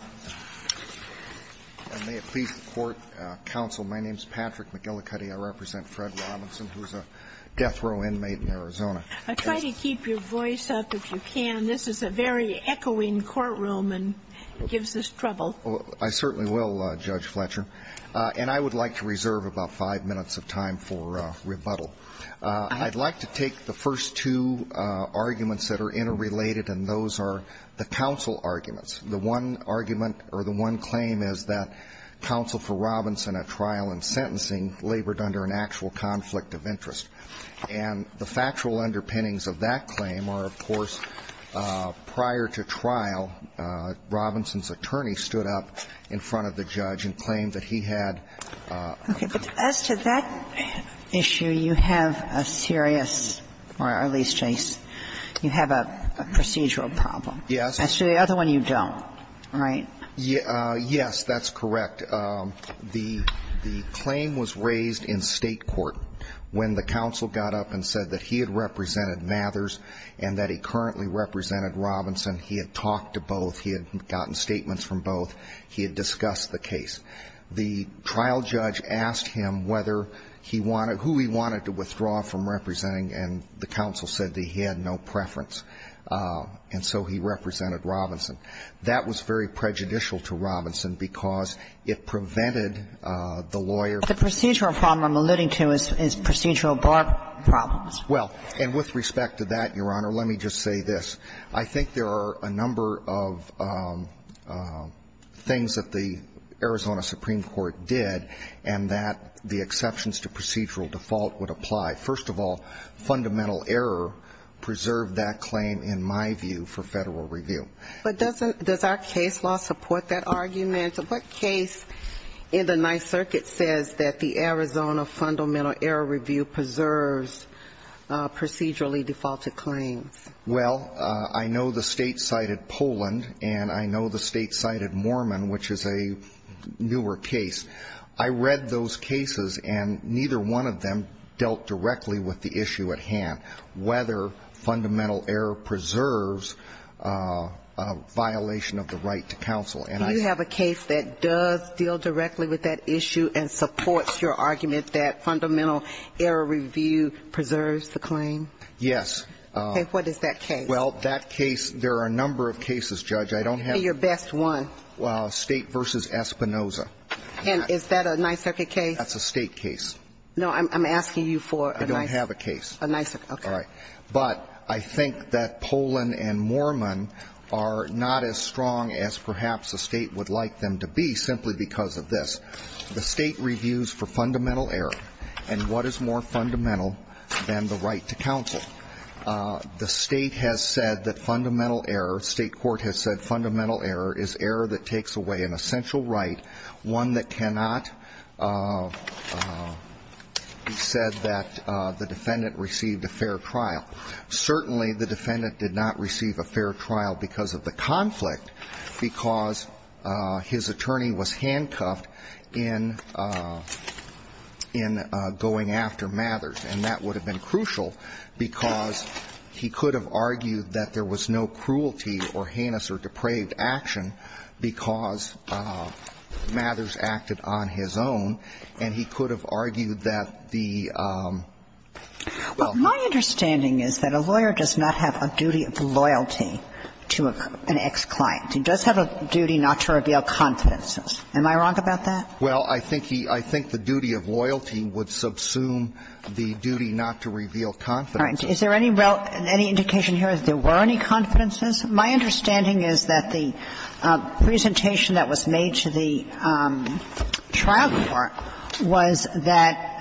I would like to reserve about five minutes of time for rebuttal. I would like to take the first two arguments that are interrelated, and those are the counsel arguments. The one argument or the one claim is that counsel for Robinson at trial and sentencing labored under an actual conflict of interest. And the factual underpinnings of that claim are, of course, prior to trial, Robinson's attorney stood up in front of the judge and claimed that he had a conflict of interest. And so the other one you don't, right? Yes, that's correct. The claim was raised in State court when the counsel got up and said that he had represented Mathers and that he currently represented Robinson. He had talked to both. He had gotten statements from both. He had discussed the case. The trial judge asked him whether he wanted to, who he wanted to withdraw from representing, and the counsel said that he had no preference. And so he represented Robinson. That was very prejudicial to Robinson because it prevented the lawyer from going to trial. The procedural problem I'm alluding to is procedural bar problems. Well, and with respect to that, Your Honor, let me just say this. I think there are a number of things that the Arizona Supreme Court did and that the exceptions to procedural default would apply. First of all, fundamental error preserved that claim, in my view, for Federal Review. But does our case law support that argument? What case in the Ninth Circuit says that the Arizona Fundamental Error Review preserves procedurally defaulted claims? Well, I know the State cited Poland, and I know the State cited Mormon, which is a newer case. I read those cases, and neither one of them dealt directly with the issue at hand, whether fundamental error preserves a violation of the right to counsel. And I see that. Do you have a case that does deal directly with that issue and supports your argument that Fundamental Error Review preserves the claim? Yes. Okay. What is that case? Well, that case, there are a number of cases, Judge. I don't have. Give me your best one. State v. Espinoza. And is that a Ninth Circuit case? That's a State case. No, I'm asking you for a Ninth Circuit. I don't have a case. A Ninth Circuit, okay. All right. But I think that Poland and Mormon are not as strong as perhaps a State would like them to be simply because of this. The State reviews for fundamental error, and what is more fundamental than the right to counsel? The State has said that fundamental error, State court has said fundamental error is error that takes away an essential right, one that cannot be said that the defendant received a fair trial. Certainly, the defendant did not receive a fair trial because of the conflict, because his attorney was handcuffed in going after Mathers. And that would have been crucial because he could have argued that there was no cruelty or that he could have argued that he could have taken action because Mathers acted on his own, and he could have argued that the- Well, my understanding is that a lawyer does not have a duty of loyalty to an ex-client. He does have a duty not to reveal confidences. Am I wrong about that? Well, I think he – I think the duty of loyalty would subsume the duty not to reveal confidences. Is there any indication here that there were any confidences? My understanding is that the presentation that was made to the trial court was that –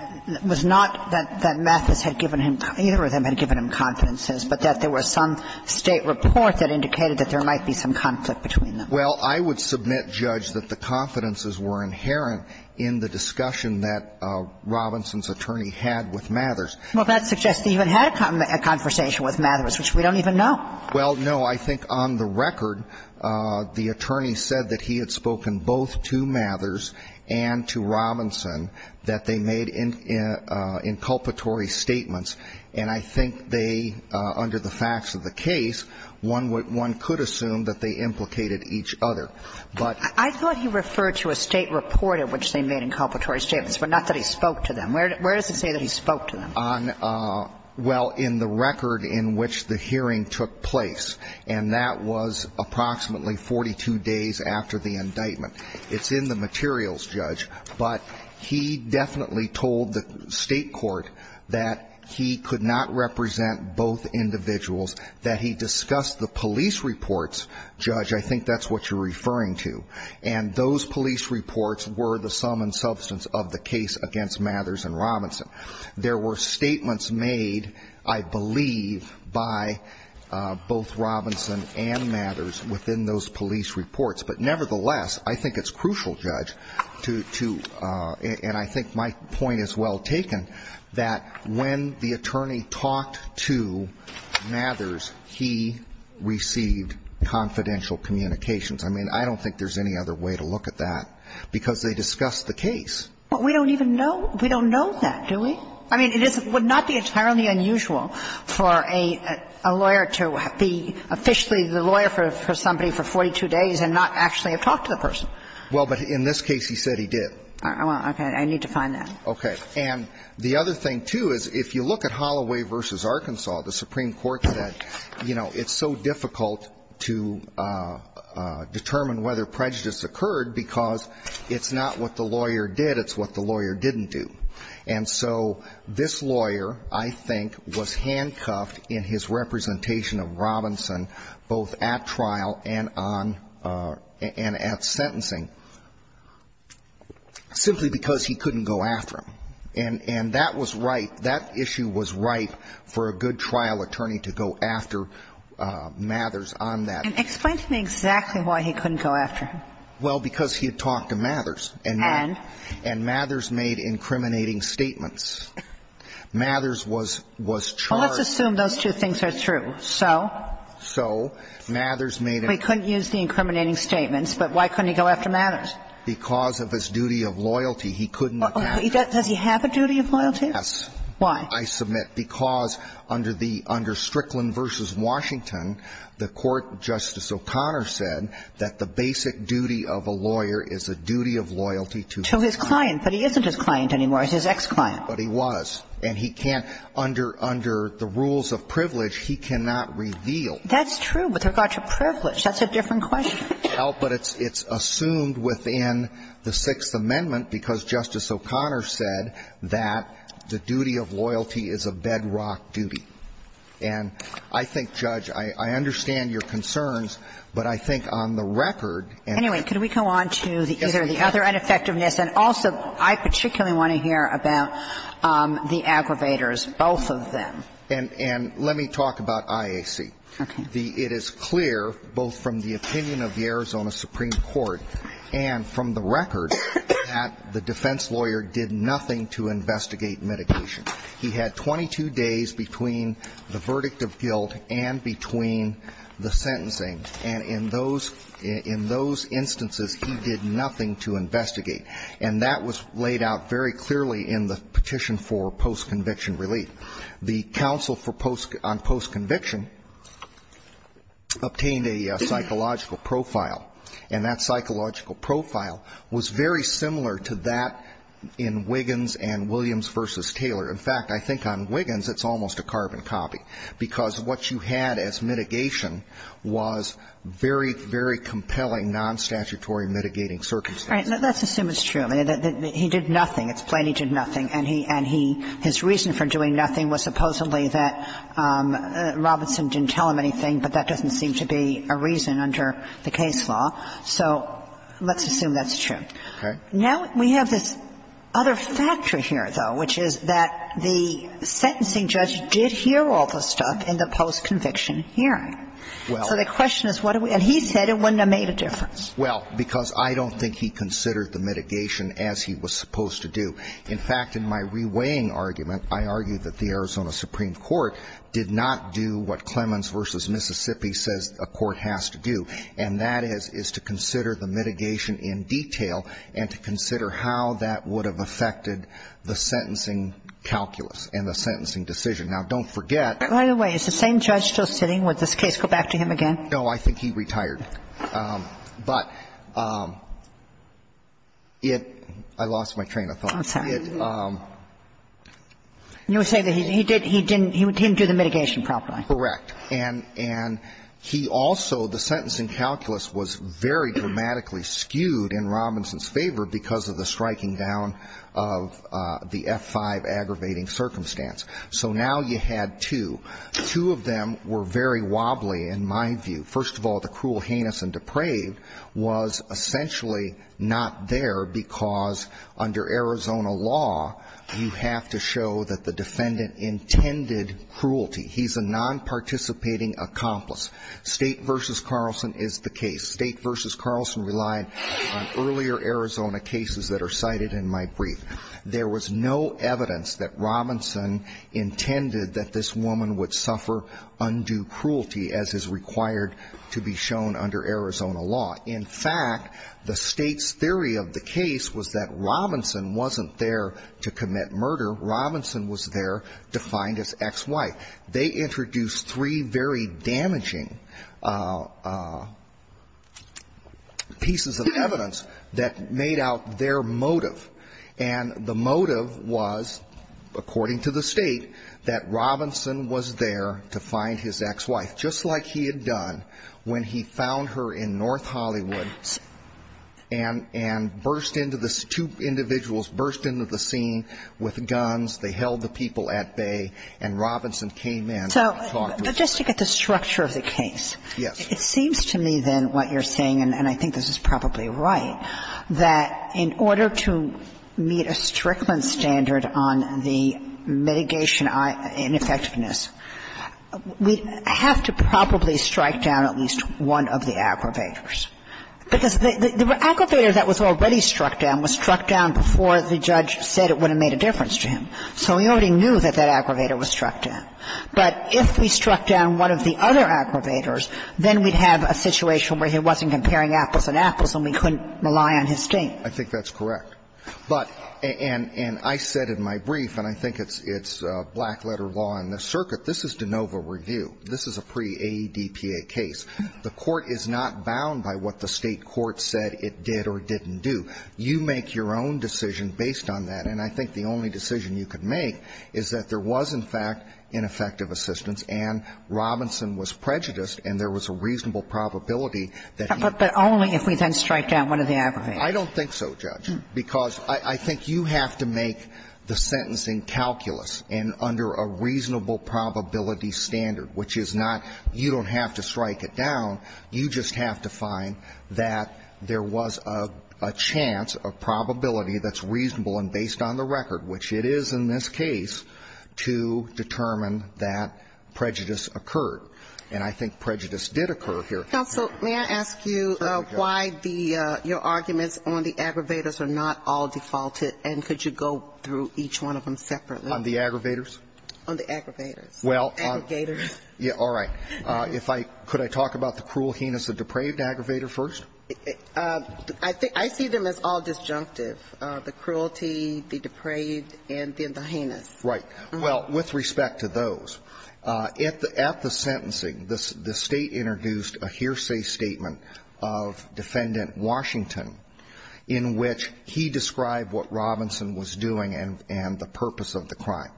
was not that Mathers had given him – either of them had given him confidences, but that there was some State report that indicated that there might be some conflict between them. Well, I would submit, Judge, that the confidences were inherent in the discussion that Robinson's attorney had with Mathers. Well, that suggests he even had a conversation with Mathers, which we don't even know. Well, no. I think on the record, the attorney said that he had spoken both to Mathers and to Robinson, that they made inculpatory statements. And I think they, under the facts of the case, one would – one could assume that they implicated each other. But- I thought he referred to a State report in which they made inculpatory statements, but not that he spoke to them. Where does it say that he spoke to them? On – well, in the record in which the hearing took place. And that was approximately 42 days after the indictment. It's in the materials, Judge. But he definitely told the State court that he could not represent both individuals, that he discussed the police reports – Judge, I think that's what you're referring to – and those police reports were the sum and substance of the case against Mathers and Robinson. There were statements made, I believe, by both Robinson and Mathers within those police reports. But nevertheless, I think it's crucial, Judge, to – and I think my point is well taken, that when the attorney talked to Mathers, he received confidential communications. I mean, I don't think there's any other way to look at that, because they discussed the case. But we don't even know – we don't know that, do we? I mean, it is – would not be entirely unusual for a lawyer to be officially the lawyer for somebody for 42 days and not actually have talked to the person. Well, but in this case, he said he did. Okay. I need to find that. Okay. And the other thing, too, is if you look at Holloway v. Arkansas, the Supreme Court said, you know, it's so difficult to determine whether prejudice occurred because it's not what the lawyer did, it's what the lawyer didn't do. And so this lawyer, I think, was handcuffed in his representation of Robinson both at trial and on – and at sentencing simply because he couldn't go after him. And that was right – that issue was right for a good trial attorney to go after Mathers on that. And explain to me exactly why he couldn't go after him. Well, because he had talked to Mathers. And? And Mathers made incriminating statements. Mathers was charged – Well, let's assume those two things are true. So? So Mathers made – He couldn't use the incriminating statements, but why couldn't he go after Mathers? Because of his duty of loyalty. He could not go after him. Does he have a duty of loyalty? Yes. Why? I submit because under the – under Strickland v. Washington, the Court, Justice O'Connor said that the basic duty of a lawyer is a duty of loyalty to his client. To his client. But he isn't his client anymore. He's his ex-client. But he was. And he can't – under – under the rules of privilege, he cannot reveal. That's true. But with regard to privilege, that's a different question. Well, but it's – it's assumed within the Sixth Amendment because Justice O'Connor said that the duty of loyalty is a bedrock duty. And I think, Judge, I understand your concerns, but I think on the record and the Anyway, could we go on to either the other ineffectiveness and also I particularly want to hear about the aggravators, both of them. And let me talk about IAC. Okay. It is clear, both from the opinion of the Arizona Supreme Court and from the record, that the defense lawyer did nothing to investigate mitigation. He had 22 days between the verdict of guilt and between the sentencing. And in those – in those instances, he did nothing to investigate. And that was laid out very clearly in the petition for post-conviction relief. The counsel for post – on post-conviction obtained a psychological profile, and that psychological profile was very similar to that in Wiggins and Williams v. Taylor. In fact, I think on Wiggins, it's almost a carbon copy, because what you had as mitigation was very, very compelling nonstatutory mitigating circumstances. All right. Let's assume it's true. He did nothing. It's plain he did nothing. And he – and he – his reason for doing nothing was supposedly that Robinson didn't tell him anything, but that doesn't seem to be a reason under the case law. So let's assume that's true. Okay. Now we have this other factor here, though, which is that the sentencing judge did hear all the stuff in the post-conviction hearing. Well – So the question is, what do we – and he said it wouldn't have made a difference. Well, because I don't think he considered the mitigation as he was supposed to do. In fact, in my reweighing argument, I argue that the Arizona Supreme Court did not do what Clemens v. Mississippi says a court has to do, and that is, is to consider the mitigation in detail and to consider how that would have affected the sentencing calculus and the sentencing decision. Now, don't forget – By the way, is the same judge still sitting? Would this case go back to him again? No. I think he retired. But it – I lost my train of thought. I'm sorry. It – You were saying that he did – he didn't do the mitigation properly. Correct. And he also – the sentencing calculus was very dramatically skewed in Robinson's favor because of the striking down of the F-5 aggravating circumstance. So now you had two. Two of them were very wobbly, in my view. First of all, the cruel, heinous, and depraved was essentially not there because under Arizona law, you have to show that the defendant intended cruelty. He's a non-participating accomplice. State v. Carlson is the case. State v. Carlson relied on earlier Arizona cases that are cited in my brief. There was no evidence that Robinson intended that this woman would suffer undue cruelty, as is required to be shown under Arizona law. In fact, the State's theory of the case was that Robinson wasn't there to commit murder. Robinson was there defined as ex-wife. They introduced three very damaging pieces of evidence that made out their motive. And the motive was, according to the State, that Robinson was there to find his ex-wife, just like he had done when he found her in North Hollywood and burst into the – two individuals burst into the scene with guns. They held the people at bay, and Robinson came in and talked with them. So just to get the structure of the case. Yes. It seems to me, then, what you're saying, and I think this is probably right, that in order to meet a Strickland standard on the mitigation ineffectiveness, we have to probably strike down at least one of the aggravators. Because the aggravator that was already struck down was struck down before the judge said it would have made a difference to him. So we already knew that that aggravator was struck down. But if we struck down one of the other aggravators, then we'd have a situation where he wasn't comparing apples and apples and we couldn't rely on his state. I think that's correct. But – and I said in my brief, and I think it's black-letter law in this circuit, this is de novo review. This is a pre-AEDPA case. The Court is not bound by what the State court said it did or didn't do. You make your own decision based on that. And I think the only decision you could make is that there was, in fact, ineffective assistance and Robinson was prejudiced and there was a reasonable probability that he was. But only if we then strike down one of the aggravators. I don't think so, Judge, because I think you have to make the sentencing calculus and under a reasonable probability standard, which is not you don't have to strike it down, you just have to find that there was a chance, a probability that's reasonable and based on the record, which it is in this case, to determine that prejudice occurred. And I think prejudice did occur here. Counsel, may I ask you why the – your arguments on the aggravators are not all defaulted? And could you go through each one of them separately? On the aggravators? On the aggravators. Aggregators. All right. If I – could I talk about the cruel heinous, the depraved aggravator first? I think – I see them as all disjunctive. The cruelty, the depraved, and then the heinous. Right. Well, with respect to those, at the – at the sentencing, the State introduced a hearsay statement of Defendant Washington in which he described what Robinson was doing and the purpose of the crime.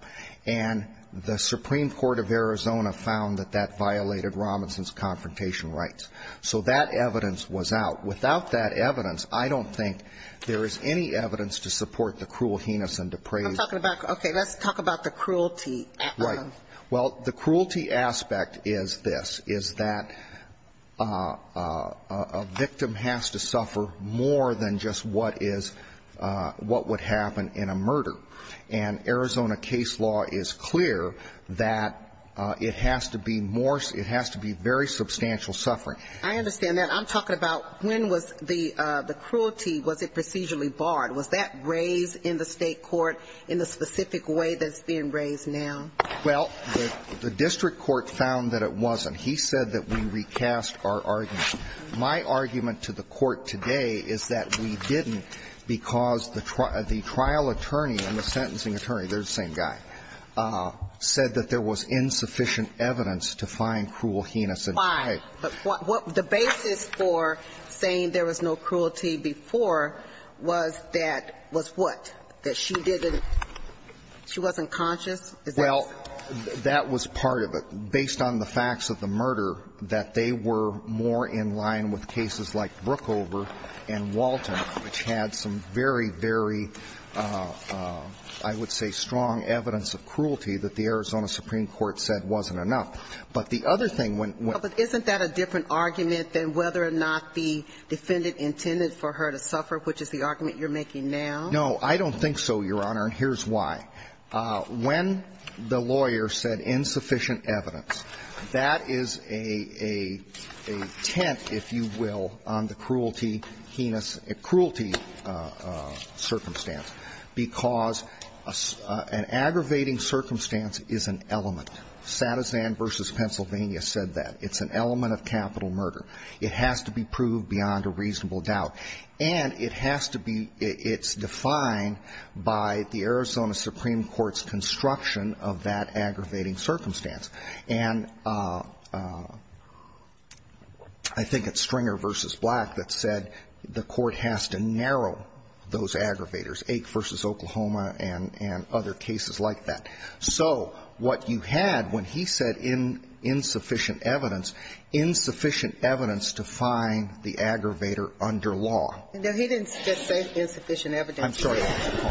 And the Supreme Court of Arizona found that that violated Robinson's confrontation rights. So that evidence was out. Without that evidence, I don't think there is any evidence to support the cruel heinous and depraved. I'm talking about – okay, let's talk about the cruelty. Right. Well, the cruelty aspect is this, is that a victim has to suffer more than just what is – what would happen in a murder. And Arizona case law is clear that it has to be more – it has to be very substantial suffering. I understand that. I'm talking about when was the – the cruelty, was it procedurally barred? Was that raised in the State court in the specific way that it's being raised now? Well, the district court found that it wasn't. He said that we recast our argument. My argument to the court today is that we didn't because the trial attorney and the sentencing attorney, they're the same guy, said that there was insufficient evidence to find cruel heinous and depraved. Why? The basis for saying there was no cruelty before was that – was what? That she didn't – she wasn't conscious? Is that what you're saying? That was part of it. Based on the facts of the murder, that they were more in line with cases like Brookover and Walton, which had some very, very, I would say, strong evidence of cruelty that the Arizona Supreme Court said wasn't enough. But the other thing when – But isn't that a different argument than whether or not the defendant intended for her to suffer, which is the argument you're making now? No, I don't think so, Your Honor, and here's why. When the lawyer said insufficient evidence, that is a – a tent, if you will, on the cruelty, heinous – cruelty circumstance, because an aggravating circumstance is an element. Satizan v. Pennsylvania said that. It's an element of capital murder. It has to be proved beyond a reasonable doubt. And it has to be – it's defined by the Arizona Supreme Court's construction of that aggravating circumstance. And I think it's Stringer v. Black that said the court has to narrow those aggravators, Ake v. Oklahoma and – and other cases like that. So what you had when he said insufficient evidence, insufficient evidence to find the aggravator under law. No, he didn't just say insufficient evidence. I'm sorry.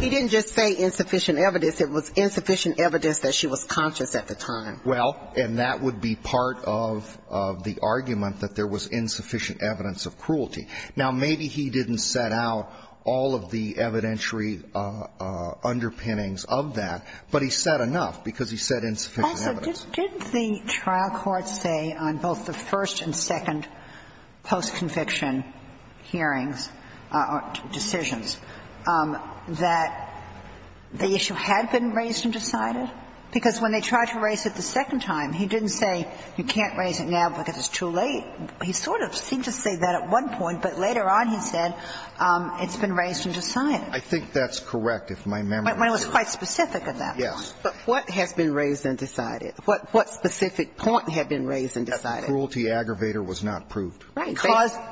He didn't just say insufficient evidence. It was insufficient evidence that she was conscious at the time. Well, and that would be part of – of the argument that there was insufficient evidence of cruelty. Now, maybe he didn't set out all of the evidentiary underpinnings of that, but he said enough because he said insufficient evidence. Sotomayor, did the trial court say on both the first and second post-conviction hearings or decisions that the issue had been raised and decided? Because when they tried to raise it the second time, he didn't say you can't raise it now because it's too late. He sort of seemed to say that at one point, but later on, he said it's been raised and decided. I think that's correct, if my memory serves. It was quite specific at that point. Yes. But what has been raised and decided? What specific point had been raised and decided? That the cruelty aggravator was not proved. Right.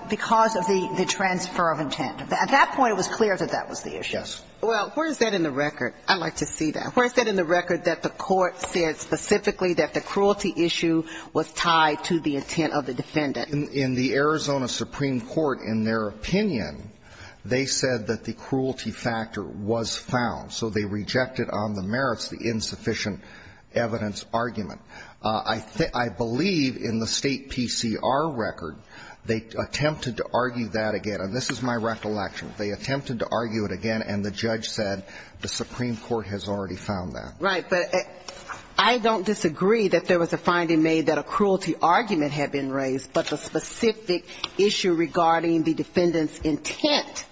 Because of the transfer of intent. At that point, it was clear that that was the issue. Yes. Well, where is that in the record? I'd like to see that. Where is that in the record that the court said specifically that the cruelty issue was tied to the intent of the defendant? In the Arizona Supreme Court, in their opinion, they said that the cruelty factor was found. So they rejected on the merits the insufficient evidence argument. I believe in the State PCR record, they attempted to argue that again. And this is my recollection. They attempted to argue it again, and the judge said the Supreme Court has already found that. Right. But I don't disagree that there was a finding made that a cruelty argument had been raised, but the specific issue regarding the defendant's intent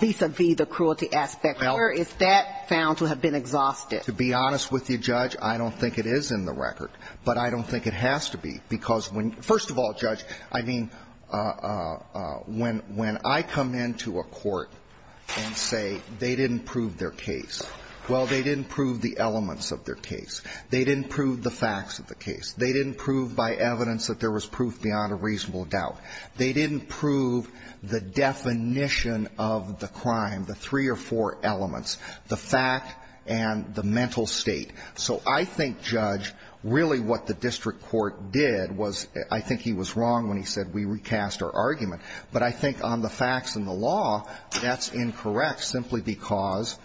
vis-a-vis the cruelty aspect, where is that found to have been exhausted? To be honest with you, Judge, I don't think it is in the record. But I don't think it has to be. Because when you – first of all, Judge, I mean, when I come into a court and say they didn't prove their case, well, they didn't prove the elements of their case. They didn't prove the facts of the case. They didn't prove by evidence that there was proof beyond a reasonable doubt. They didn't prove the definition of the crime, the three or four elements, the fact and the mental state. So I think, Judge, really what the district court did was – I think he was wrong when he said we recast our argument. But I think on the facts and the law, that's incorrect simply because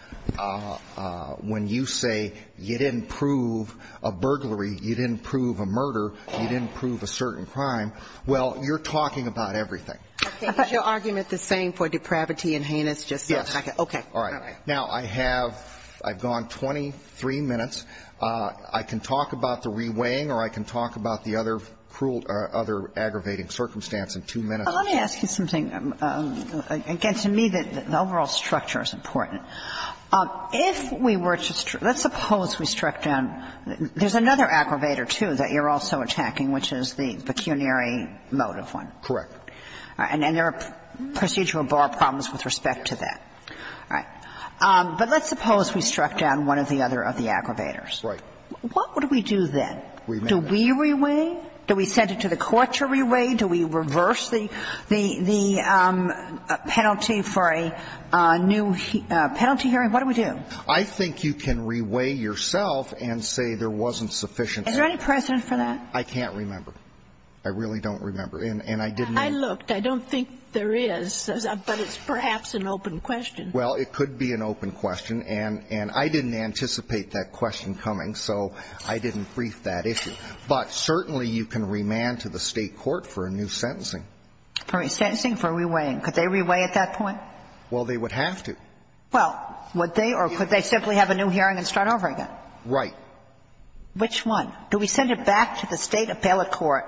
when you say you didn't prove a burglary, you didn't prove a murder, you didn't prove a certain crime, well, you're talking about everything. Okay. Is your argument the same for depravity and heinous justice? Yes. Okay. All right. All right. Now, I have – I've gone 23 minutes. I can talk about the reweighing or I can talk about the other aggravating circumstance in two minutes. Let me ask you something. Again, to me, the overall structure is important. If we were to – let's suppose we struck down – there's another aggravator, too, that you're also attacking, which is the pecuniary motive one. Correct. And there are procedural bar problems with respect to that. All right. But let's suppose we struck down one or the other of the aggravators. Right. What would we do then? Do we reweigh? Do we send it to the court to reweigh? Do we reverse the penalty for a new penalty hearing? What do we do? I think you can reweigh yourself and say there wasn't sufficient. Is there any precedent for that? I can't remember. I really don't remember. And I didn't – I looked. I don't think there is. But it's perhaps an open question. Well, it could be an open question. And I didn't anticipate that question coming, so I didn't brief that issue. But certainly you can remand to the State court for a new sentencing. Sentencing for reweighing. Could they reweigh at that point? Well, they would have to. Well, would they? Or could they simply have a new hearing and start over again? Right. Which one? Do we send it back to the State appellate court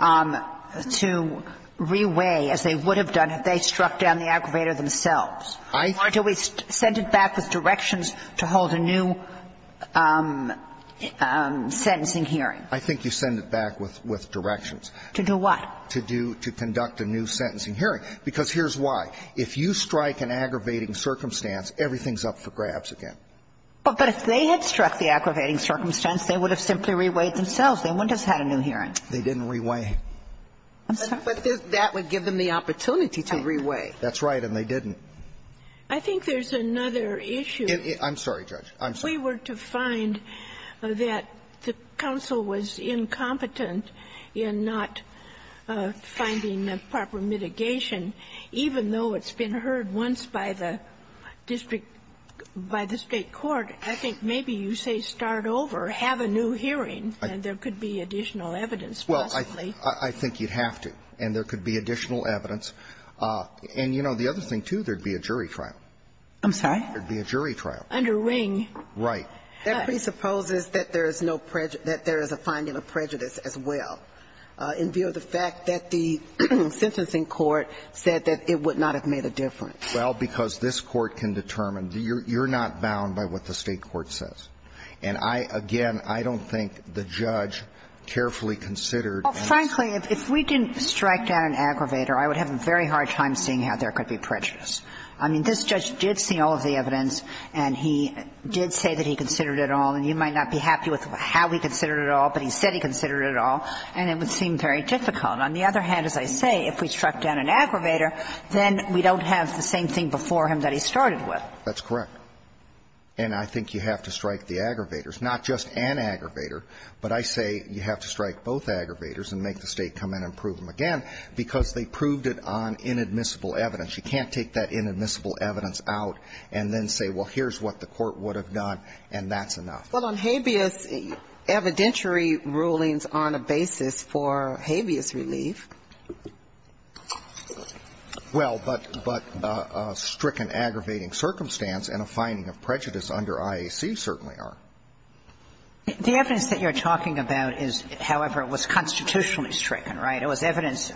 to reweigh as they would have done if they struck down the aggravator themselves? Or do we send it back with directions to hold a new sentencing hearing? I think you send it back with directions. To do what? To do – to conduct a new sentencing hearing. Because here's why. If you strike an aggravating circumstance, everything's up for grabs again. But if they had struck the aggravating circumstance, they would have simply reweighed themselves. They wouldn't have had a new hearing. They didn't reweigh. I'm sorry? But that would give them the opportunity to reweigh. That's right. And they didn't. I think there's another issue. I'm sorry, Judge. I'm sorry. If we were to find that the counsel was incompetent in not finding proper mitigation, even though it's been heard once by the district – by the State court, I think maybe you say start over, have a new hearing, and there could be additional evidence possibly. Well, I think you'd have to. And there could be additional evidence. And, you know, the other thing, too, there'd be a jury trial. I'm sorry? There'd be a jury trial. Under Ring. Right. That presupposes that there is no prejudice – that there is a finding of prejudice as well. In view of the fact that the sentencing court said that it would not have made a difference. Well, because this court can determine. You're not bound by what the State court says. And I – again, I don't think the judge carefully considered – Well, frankly, if we didn't strike down an aggravator, I would have a very hard time seeing how there could be prejudice. I mean, this judge did see all of the evidence, and he did say that he considered it all. And you might not be happy with how he considered it all, but he said he considered it all. And it would seem very difficult. On the other hand, as I say, if we struck down an aggravator, then we don't have the same thing before him that he started with. That's correct. And I think you have to strike the aggravators. Not just an aggravator, but I say you have to strike both aggravators and make the State come in and prove them again, because they proved it on inadmissible evidence. You can't take that inadmissible evidence out and then say, well, here's what the court would have done, and that's enough. Well, on habeas, evidentiary rulings on a basis for habeas relief. Well, but a stricken aggravating circumstance and a finding of prejudice under IAC certainly are. The evidence that you're talking about is, however, it was constitutionally stricken, right? It was evidence.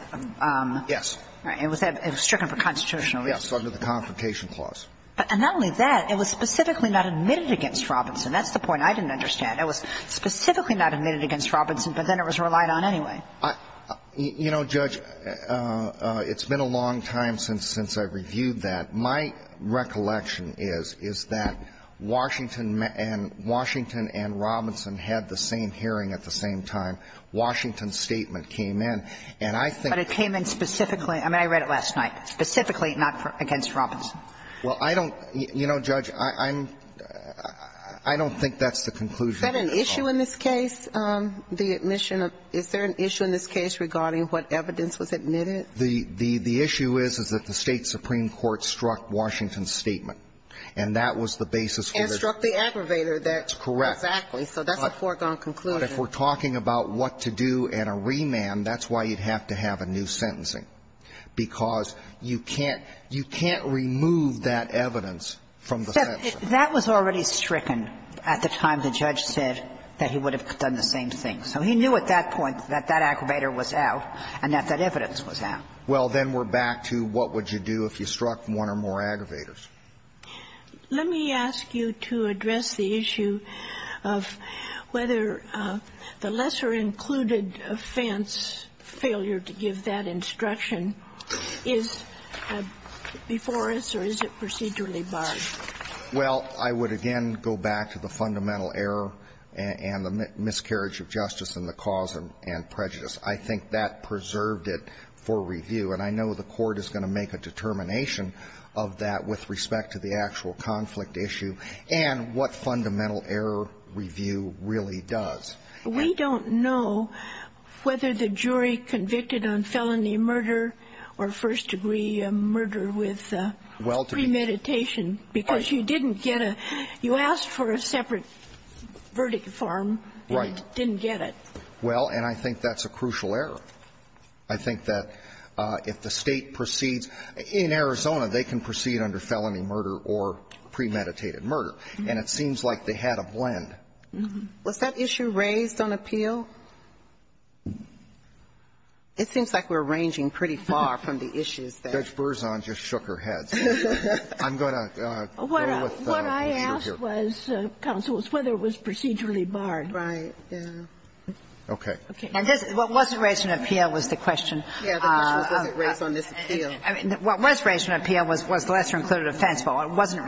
Yes. It was stricken for constitutional reason. Yes, under the Confrontation Clause. And not only that, it was specifically not admitted against Robinson. That's the point I didn't understand. It was specifically not admitted against Robinson, but then it was relied on anyway. You know, Judge, it's been a long time since I've reviewed that. My recollection is, is that Washington and Robinson had the same hearing at the same time. Washington's statement came in. And I think that it came in specifically. I mean, I read it last night. Specifically not against Robinson. Well, I don't, you know, Judge, I'm, I don't think that's the conclusion. Is that an issue in this case? The admission of, is there an issue in this case regarding what evidence was admitted? The issue is, is that the State supreme court struck Washington's statement. And that was the basis for the. And struck the aggravator. That's correct. Exactly. So that's a foregone conclusion. But if we're talking about what to do and a remand, that's why you'd have to have a new sentencing. Because you can't, you can't remove that evidence from the sentence. That was already stricken at the time the judge said that he would have done the same thing. So he knew at that point that that aggravator was out and that that evidence was out. Well, then we're back to what would you do if you struck one or more aggravators? Let me ask you to address the issue of whether the lesser included offense failure to give that instruction is before us or is it procedurally barred. Well, I would again go back to the fundamental error and the miscarriage of justice and the cause and prejudice. I think that preserved it for review. And I know the Court is going to make a determination of that with respect to the actual conflict issue and what fundamental error review really does. We don't know whether the jury convicted on felony murder or first degree murder with premeditation because you didn't get a, you asked for a separate verdict form and it didn't get it. Right. Well, and I think that's a crucial error. I think that if the State proceeds, in Arizona they can proceed under felony murder or premeditated murder. And it seems like they had a blend. Was that issue raised on appeal? It seems like we're ranging pretty far from the issues. Judge Berzon just shook her head. I'm going to go with the issue here. What I asked was, counsel, was whether it was procedurally barred. Right. Okay. Okay. And this, what wasn't raised in appeal was the question. Yeah, the question was, was it raised on this appeal? I mean, what was raised in appeal was the lesser included offense, but what wasn't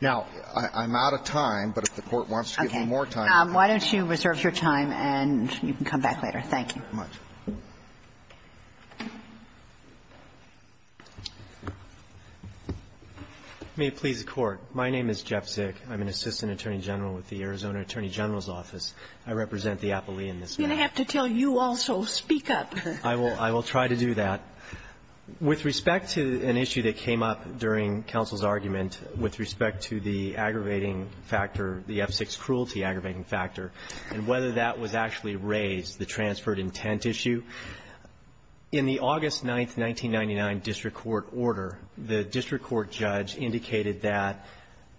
Now, I'm out of time, but if the Court wants to give me more time. Okay. Why don't you reserve your time and you can come back later. Thank you. Thank you very much. May it please the Court. My name is Jeff Zick. I'm an assistant attorney general with the Arizona Attorney General's Office. I represent the appellee in this case. I'm going to have to tell you also, speak up. I will. I will try to do that. With respect to an issue that came up during counsel's argument, with respect to the aggravating factor, the F-6 cruelty aggravating factor, and whether that was actually raised, the transferred intent issue, in the August 9, 1999, district court order, the district court judge indicated that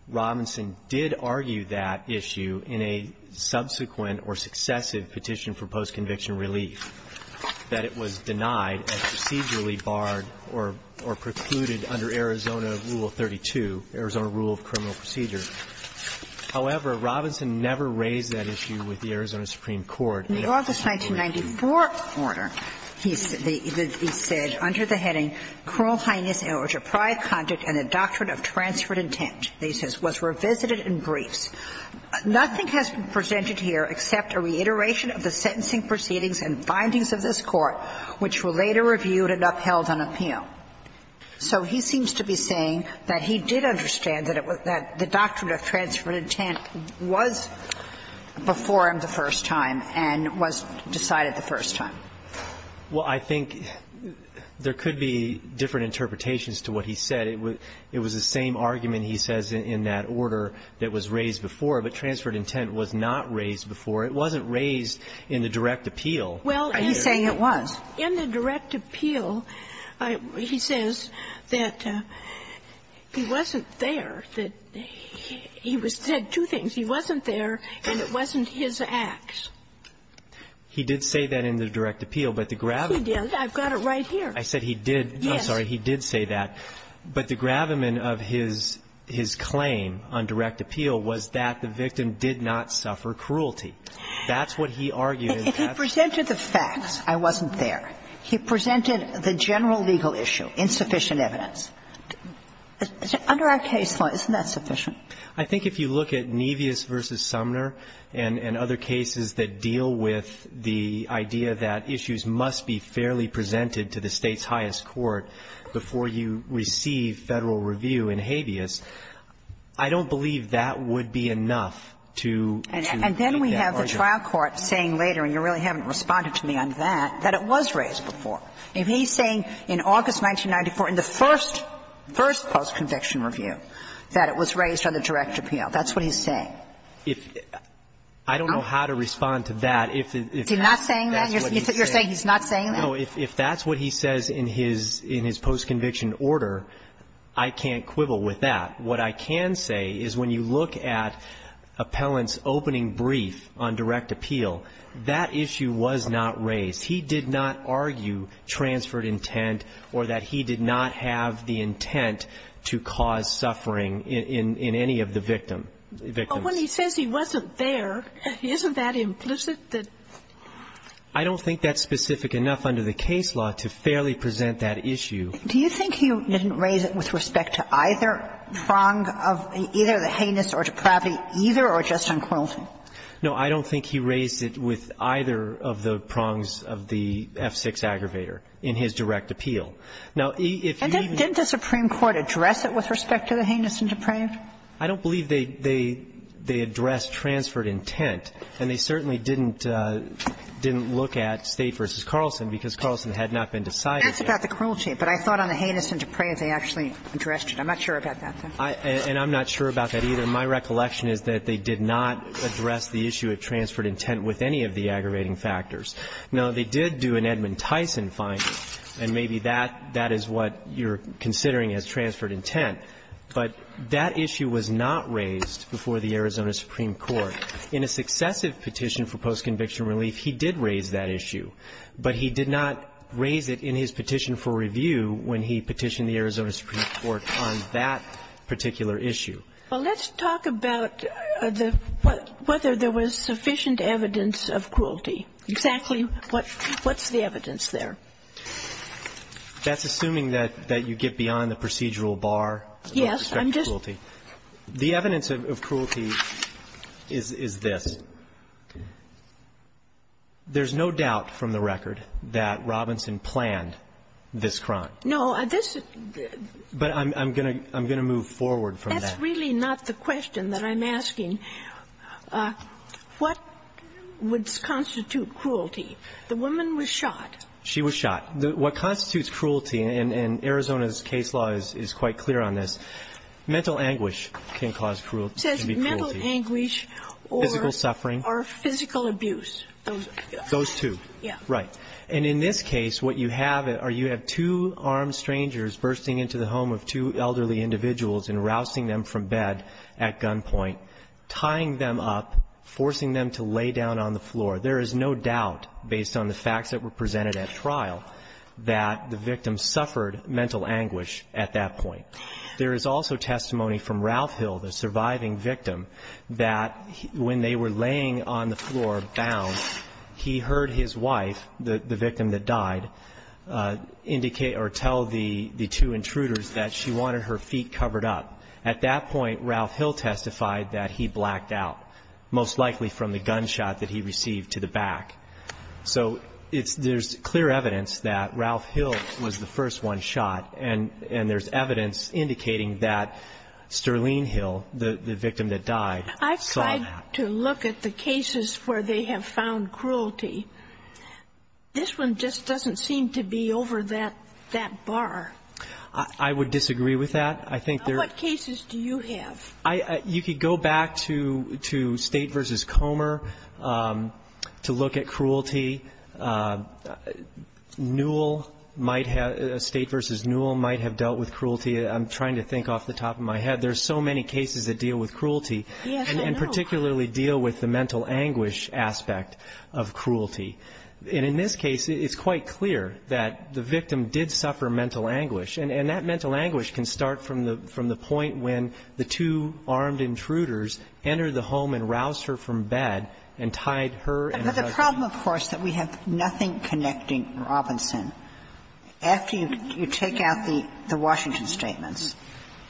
Robinson did argue that issue in a subsequent or successive petition for post-conviction relief, that it was denied and procedurally barred or precluded under Arizona Rule 32, Arizona Rule of Criminal Procedure. However, Robinson never raised that issue with the Arizona Supreme Court. In the August 1994 order, he said under the heading, Cruel heinous or deprived conduct and the doctrine of transferred intent. He says, was revisited in briefs. Nothing has been presented here except a reiteration of the sentencing proceedings and findings of this Court, which were later reviewed and upheld on appeal. So he seems to be saying that he did understand that the doctrine of transferred intent was before him the first time and was decided the first time. Well, I think there could be different interpretations to what he said. It was the same argument, he says, in that order that was raised before, but transferred intent was not raised before. It wasn't raised in the direct appeal. Are you saying it was? Well, in the direct appeal, he says that he wasn't there. He said two things. He wasn't there and it wasn't his acts. He did say that in the direct appeal. He did. I've got it right here. I said he did. Yes. I'm sorry. He did say that. But the gravamen of his claim on direct appeal was that the victim did not suffer cruelty. That's what he argued. If he presented the facts, I wasn't there. He presented the general legal issue, insufficient evidence. Under our case law, isn't that sufficient? I think if you look at Nevis v. Sumner and other cases that deal with the idea that issues must be fairly presented to the State's highest court before you receive Federal review in habeas, I don't believe that would be enough to make that argument. And then we have the trial court saying later, and you really haven't responded to me on that, that it was raised before. If he's saying in August 1994, in the first, first post-conviction review, that it was raised on the direct appeal, that's what he's saying. I don't know how to respond to that. Is he not saying that? You're saying he's not saying that? No. If that's what he says in his post-conviction order, I can't quibble with that. What I can say is when you look at Appellant's opening brief on direct appeal, that issue was not raised. He did not argue transferred intent or that he did not have the intent to cause suffering in any of the victims. But when he says he wasn't there, isn't that implicit? I don't think that's specific enough under the case law to fairly present that issue. Do you think he didn't raise it with respect to either prong of either the heinous or depravity, either or just on cruelty? No. I don't think he raised it with either of the prongs of the F-6 aggravator in his direct appeal. Now, if you even do that. Didn't the Supreme Court address it with respect to the heinous and depraved? I don't believe they addressed transferred intent. And they certainly didn't look at State v. Carlson, because Carlson had not been decided yet. That's about the cruelty. But I thought on the heinous and depraved, they actually addressed it. I'm not sure about that, though. And I'm not sure about that, either. My recollection is that they did not address the issue of transferred intent with any of the aggravating factors. Now, they did do an Edmund Tyson finding, and maybe that is what you're considering as transferred intent. But that issue was not raised before the Arizona Supreme Court. In a successive petition for post-conviction relief, he did raise that issue. But he did not raise it in his petition for review when he petitioned the Arizona Supreme Court on that particular issue. Well, let's talk about whether there was sufficient evidence of cruelty. Exactly what's the evidence there? That's assuming that you get beyond the procedural bar. Yes. The evidence of cruelty is this. There's no doubt from the record that Robinson planned this crime. No. But I'm going to move forward from that. That's really not the question that I'm asking. What would constitute cruelty? The woman was shot. She was shot. What constitutes cruelty, and Arizona's case law is quite clear on this, mental anguish can cause cruelty. It says mental anguish or physical abuse. Those two. Yeah. Right. And in this case, what you have are you have two armed strangers bursting into the home of two elderly individuals and rousing them from bed at gunpoint, tying them up, forcing them to lay down on the floor. There is no doubt, based on the facts that were presented at trial, that the victim suffered mental anguish at that point. There is also testimony from Ralph Hill, the surviving victim, that when they were laying on the floor bound, he heard his wife, the victim that died, indicate or tell the two intruders that she wanted her feet covered up. At that point, Ralph Hill testified that he blacked out, most likely from the gunshot that he received to the back. So there's clear evidence that Ralph Hill was the first one shot, and there's evidence indicating that Sterling Hill, the victim that died, saw that. I've tried to look at the cases where they have found cruelty. This one just doesn't seem to be over that bar. I would disagree with that. What cases do you have? You could go back to State v. Comer to look at cruelty. Newell might have, State v. Newell might have dealt with cruelty. I'm trying to think off the top of my head. There are so many cases that deal with cruelty. Yes, I know. And particularly deal with the mental anguish aspect of cruelty. And in this case, it's quite clear that the victim did suffer mental anguish. And that mental anguish can start from the point when the two armed intruders entered the home and roused her from bed and tied her and her husband together. But the problem, of course, is that we have nothing connecting Robinson. After you take out the Washington statements,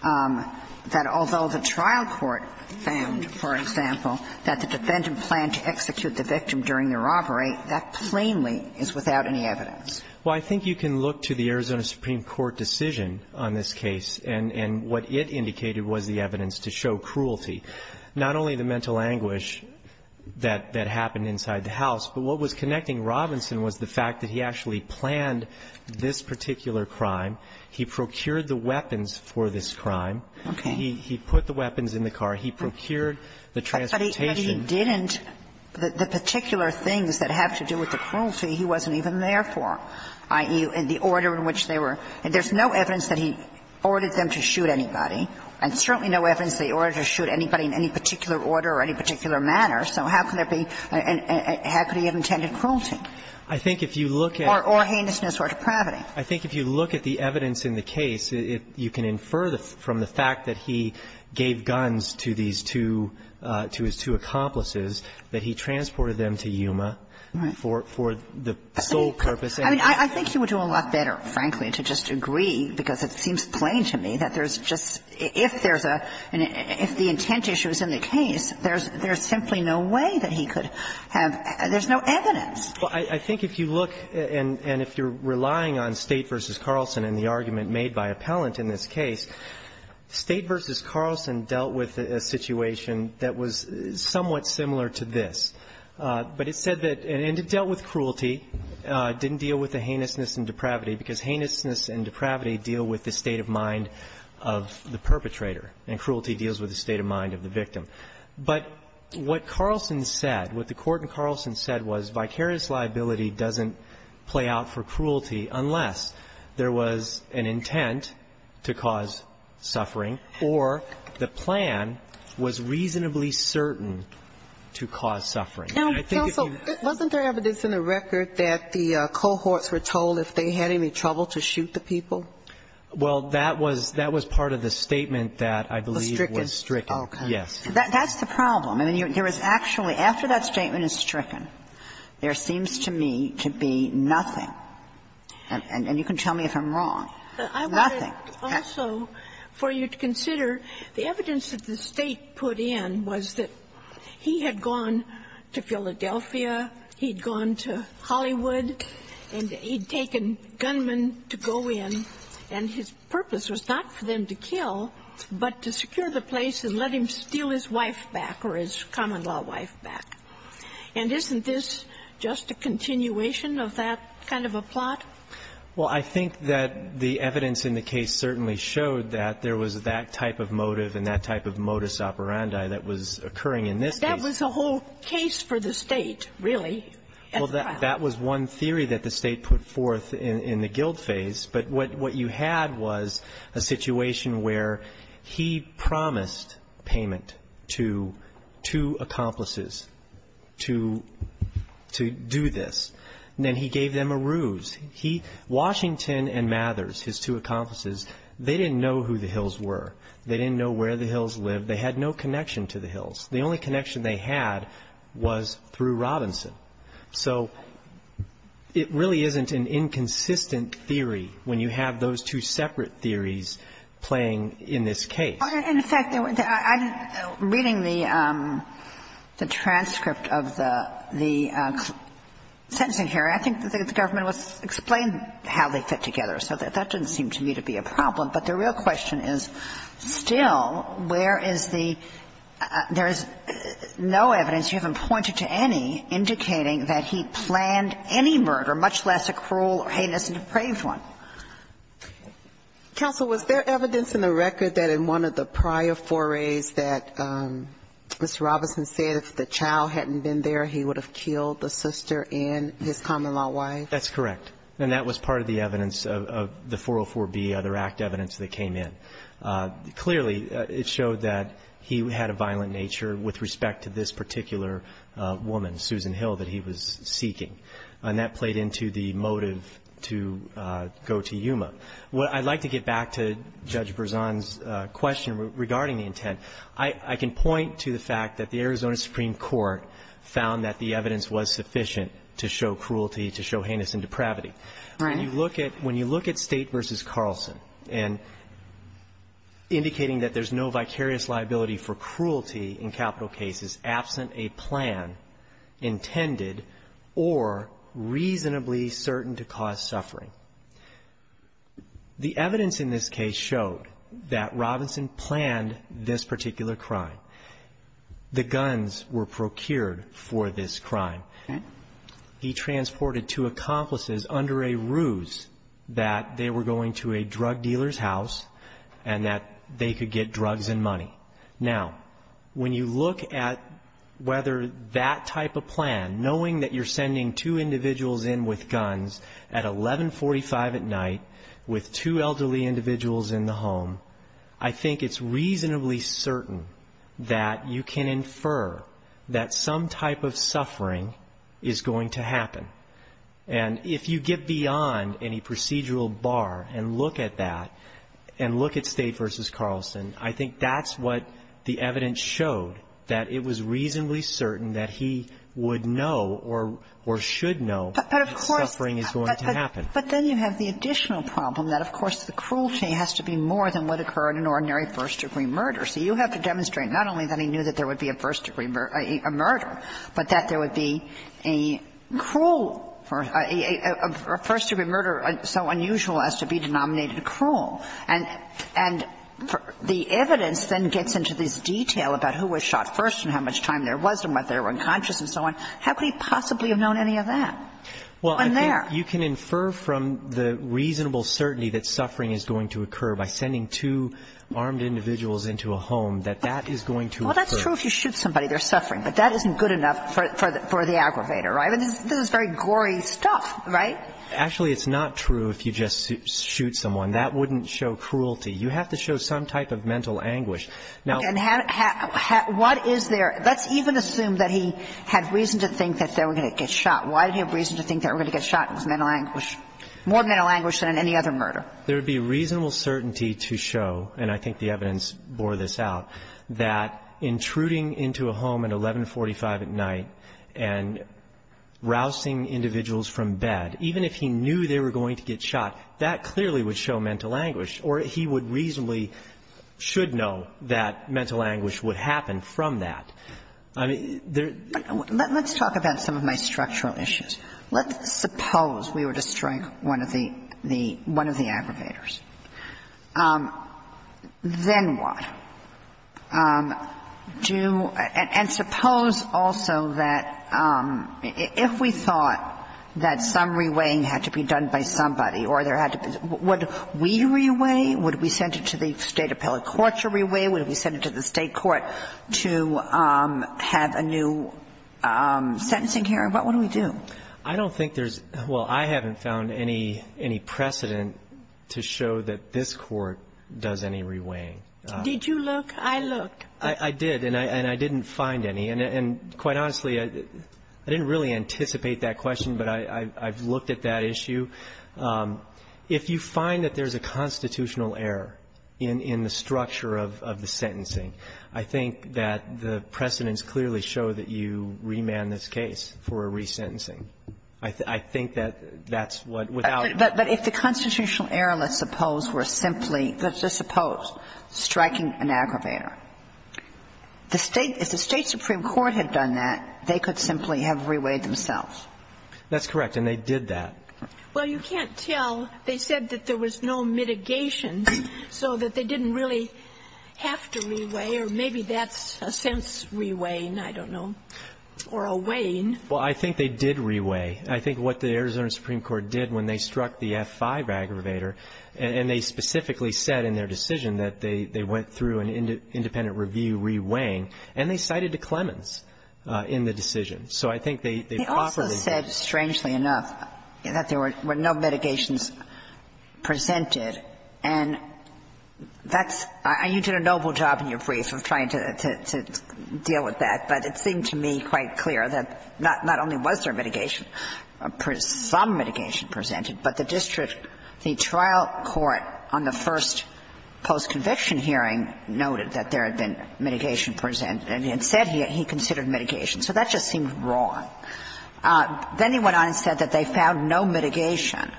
that although the trial court found, for example, that the defendant planned to execute the victim during the robbery, that plainly is without any evidence. Well, I think you can look to the Arizona Supreme Court decision on this case and what it indicated was the evidence to show cruelty. Not only the mental anguish that happened inside the house, but what was connecting Robinson was the fact that he actually planned this particular crime. He procured the weapons for this crime. Okay. He put the weapons in the car. He procured the transportation. But he didn't, the particular things that have to do with the cruelty, he wasn't even there for, i.e., the order in which they were. There's no evidence that he ordered them to shoot anybody. There's certainly no evidence that he ordered them to shoot anybody in any particular order or any particular manner. So how could there be, how could he have intended cruelty? I think if you look at the evidence in the case, you can infer from the fact that he gave guns to these two, to his two accomplices, that he transported them to Yuma for the sole purpose. I mean, I think he would do a lot better, frankly, to just agree, because it seems plain to me that there's just, if there's a, if the intent issue is in the case, there's simply no way that he could have, there's no evidence. Well, I think if you look and if you're relying on State v. Carlson and the argument made by appellant in this case, State v. Carlson dealt with a situation that was somewhat similar to this. But it said that, and it dealt with cruelty, didn't deal with the heinousness and depravity, because heinousness and depravity deal with the state of mind of the perpetrator, and cruelty deals with the state of mind of the victim. But what Carlson said, what the Court in Carlson said was vicarious liability doesn't play out for cruelty unless there was an intent to cause suffering or the victim suffering. Now, counsel, wasn't there evidence in the record that the cohorts were told if they had any trouble to shoot the people? Well, that was, that was part of the statement that I believe was stricken. Was stricken. Okay. Yes. That's the problem. I mean, there is actually, after that statement is stricken, there seems to me to be nothing, and you can tell me if I'm wrong, nothing. I wanted also for you to consider the evidence that the State put in was that he had gone to Philadelphia, he'd gone to Hollywood, and he'd taken gunmen to go in. And his purpose was not for them to kill, but to secure the place and let him steal his wife back or his common-law wife back. And isn't this just a continuation of that kind of a plot? Well, I think that the evidence in the case certainly showed that there was that type of motive and that type of modus operandi that was occurring in this case. It was a whole case for the State, really, at the time. Well, that was one theory that the State put forth in the guilt phase. But what you had was a situation where he promised payment to two accomplices to do this, and then he gave them a ruse. He, Washington and Mathers, his two accomplices, they didn't know who the Hills were. They didn't know where the Hills lived. They had no connection to the Hills. The only connection they had was through Robinson. So it really isn't an inconsistent theory when you have those two separate theories playing in this case. In fact, I'm reading the transcript of the sentencing here. I think the government explained how they fit together. So that didn't seem to me to be a problem. But the real question is, still, where is the – there is no evidence, you haven't pointed to any, indicating that he planned any murder, much less a cruel or heinous and depraved one. Counsel, was there evidence in the record that in one of the prior forays that Mr. Robinson said if the child hadn't been there, he would have killed the sister and his common-law wife? That's correct. And that was part of the evidence of the 404B, other act evidence that came in. Clearly, it showed that he had a violent nature with respect to this particular woman, Susan Hill, that he was seeking. And that played into the motive to go to Yuma. I'd like to get back to Judge Berzon's question regarding the intent. I can point to the fact that the Arizona Supreme Court found that the evidence was sufficient to show cruelty, to show heinous and depravity. When you look at State v. Carlson and indicating that there's no vicarious liability for cruelty in capital cases absent a plan intended or reasonably certain to cause suffering, the evidence in this case showed that Robinson planned this particular crime. The guns were procured for this crime. He transported two accomplices under a ruse that they were going to a drug dealer's house and that they could get drugs and money. Now, when you look at whether that type of plan, knowing that you're sending two individuals in with guns at 1145 at night with two elderly individuals in the home, I think it's reasonably certain that you can infer that some type of suffering is going to happen. And if you get beyond any procedural bar and look at that and look at State v. Carlson, I think that's what the evidence showed, that it was reasonably certain that he would know or should know that suffering is going to happen. But then you have the additional problem that, of course, the cruelty has to be more than would occur in an ordinary first-degree murder. So you have to demonstrate not only that he knew that there would be a first-degree murder, but that there would be a cruel or a first-degree murder so unusual as to be denominated cruel. And the evidence then gets into this detail about who was shot first and how much time there was and whether they were unconscious and so on. How could he possibly have known any of that? Well, I think you can infer from the reasonable certainty that suffering is going to occur by sending two armed individuals into a home that that is going to occur. Well, that's true if you shoot somebody, there's suffering. But that isn't good enough for the aggravator, right? I mean, this is very gory stuff, right? Actually, it's not true if you just shoot someone. That wouldn't show cruelty. You have to show some type of mental anguish. And what is there? Let's even assume that he had reason to think that they were going to get shot. Why did he have reason to think that they were going to get shot? It was mental anguish. More mental anguish than any other murder. There would be reasonable certainty to show, and I think the evidence bore this out, that intruding into a home at 1145 at night and rousing individuals from bed, even if he knew they were going to get shot, that clearly would show mental anguish or he would reasonably should know that mental anguish would happen from that. Let's talk about some of my structural issues. Let's suppose we were to strike one of the aggravators. Then what? And suppose also that if we thought that some reweighing had to be done by somebody or there had to be – would we reweigh? Would we send it to the State appellate court to reweigh? Would we send it to the State court to have a new sentencing hearing? What would we do? I don't think there's – well, I haven't found any precedent to show that this court does any reweighing. Did you look? I looked. I did, and I didn't find any. And quite honestly, I didn't really anticipate that question, but I've looked at that issue. If you find that there's a constitutional error in the structure of the sentencing, I think that the precedents clearly show that you remand this case for a resentencing. I think that that's what, without – But if the constitutional error, let's suppose, were simply – let's just suppose striking an aggravator, the State – if the State supreme court had done that, they could simply have reweighed themselves. That's correct, and they did that. Well, you can't tell. They said that there was no mitigation, so that they didn't really have to reweigh, or maybe that's a sense reweighing, I don't know, or a weighing. Well, I think they did reweigh. I think what the Arizona Supreme Court did when they struck the F-5 aggravator, and they specifically said in their decision that they went through an independent review reweighing, and they cited to Clemens in the decision. So I think they properly – They said, strangely enough, that there were no mitigations presented, and that's – you did a noble job in your brief of trying to deal with that, but it seemed to me quite clear that not only was there mitigation, some mitigation presented, but the district, the trial court on the first post-conviction hearing noted that there had been mitigation presented and said he considered mitigation. So that just seemed wrong. Then he went on and said that they found no mitigation,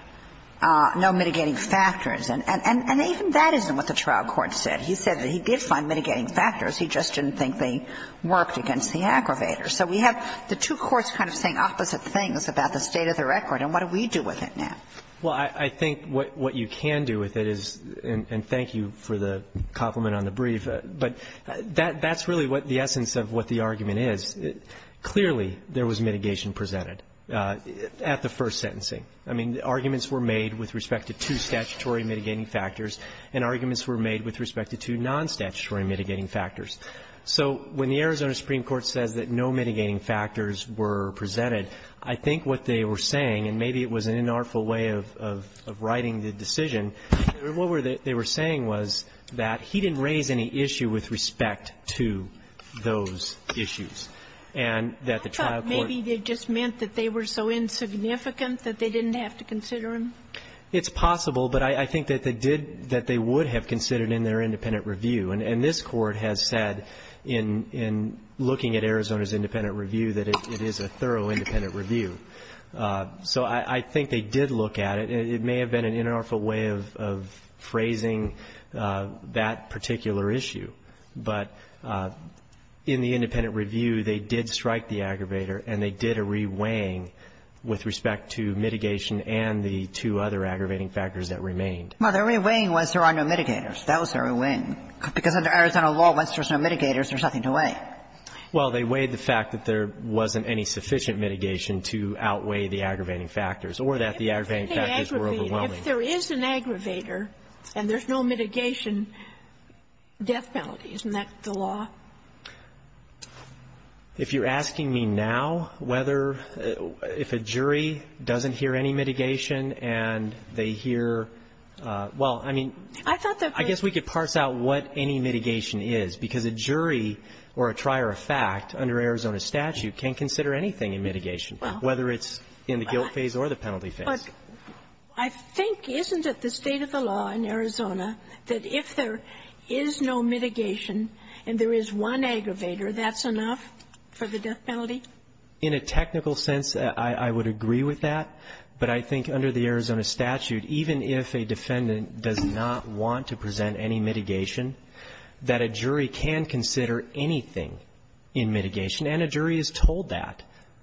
no mitigating factors. And even that isn't what the trial court said. He said that he did find mitigating factors. He just didn't think they worked against the aggravator. So we have the two courts kind of saying opposite things about the state of the record, and what do we do with it now? Well, I think what you can do with it is – and thank you for the compliment on the brief – but that's really what the essence of what the argument is. Clearly, there was mitigation presented at the first sentencing. I mean, arguments were made with respect to two statutory mitigating factors, and arguments were made with respect to two non-statutory mitigating factors. So when the Arizona Supreme Court says that no mitigating factors were presented, I think what they were saying, and maybe it was an inartful way of writing the decision, what they were saying was that he didn't raise any issue with respect to those issues, and that the trial court – I thought maybe they just meant that they were so insignificant that they didn't have to consider them. It's possible, but I think that they did – that they would have considered in their independent review. And this Court has said in looking at Arizona's independent review that it is a thorough independent review. So I think they did look at it, and it may have been an inartful way of phrasing that particular issue. But in the independent review, they did strike the aggravator, and they did a reweighing with respect to mitigation and the two other aggravating factors that remained. Well, the reweighing was there are no mitigators. That was their reweighing. Because under Arizona law, once there's no mitigators, there's nothing to weigh. Well, they weighed the fact that there wasn't any sufficient mitigation to outweigh the aggravating factors or that the aggravating factors were overwhelming. If there is an aggravator and there's no mitigation, death penalty. Isn't that the law? If you're asking me now whether – if a jury doesn't hear any mitigation and they hear – well, I mean, I guess we could parse out what any mitigation is, because a jury or a trier of fact under Arizona statute can consider anything in mitigation, whether it's in the guilt phase or the penalty phase. But I think, isn't it the state of the law in Arizona that if there is no mitigation and there is one aggravator, that's enough for the death penalty? In a technical sense, I would agree with that. But I think under the Arizona statute, even if a defendant does not want to present any mitigation, that a jury can consider anything in mitigation. And a jury is told that.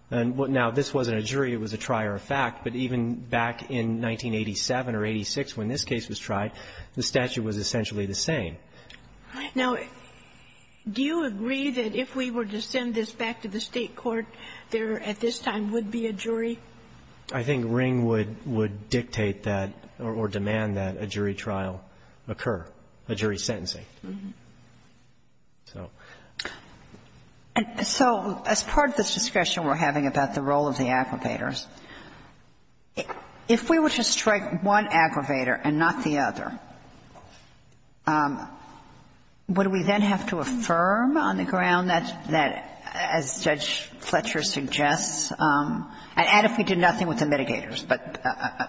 Now, this wasn't a jury. It was a trier of fact. But even back in 1987 or 86 when this case was tried, the statute was essentially the same. Now, do you agree that if we were to send this back to the State court, there at this time would be a jury? I think Ring would dictate that or demand that a jury trial occur, a jury sentencing. So as part of this discussion we're having about the role of the aggravators, if we were to strike one aggravator and not the other, would we then have to affirm on the ground that, as Judge Fletcher suggests, and add if we did nothing with the mitigators, but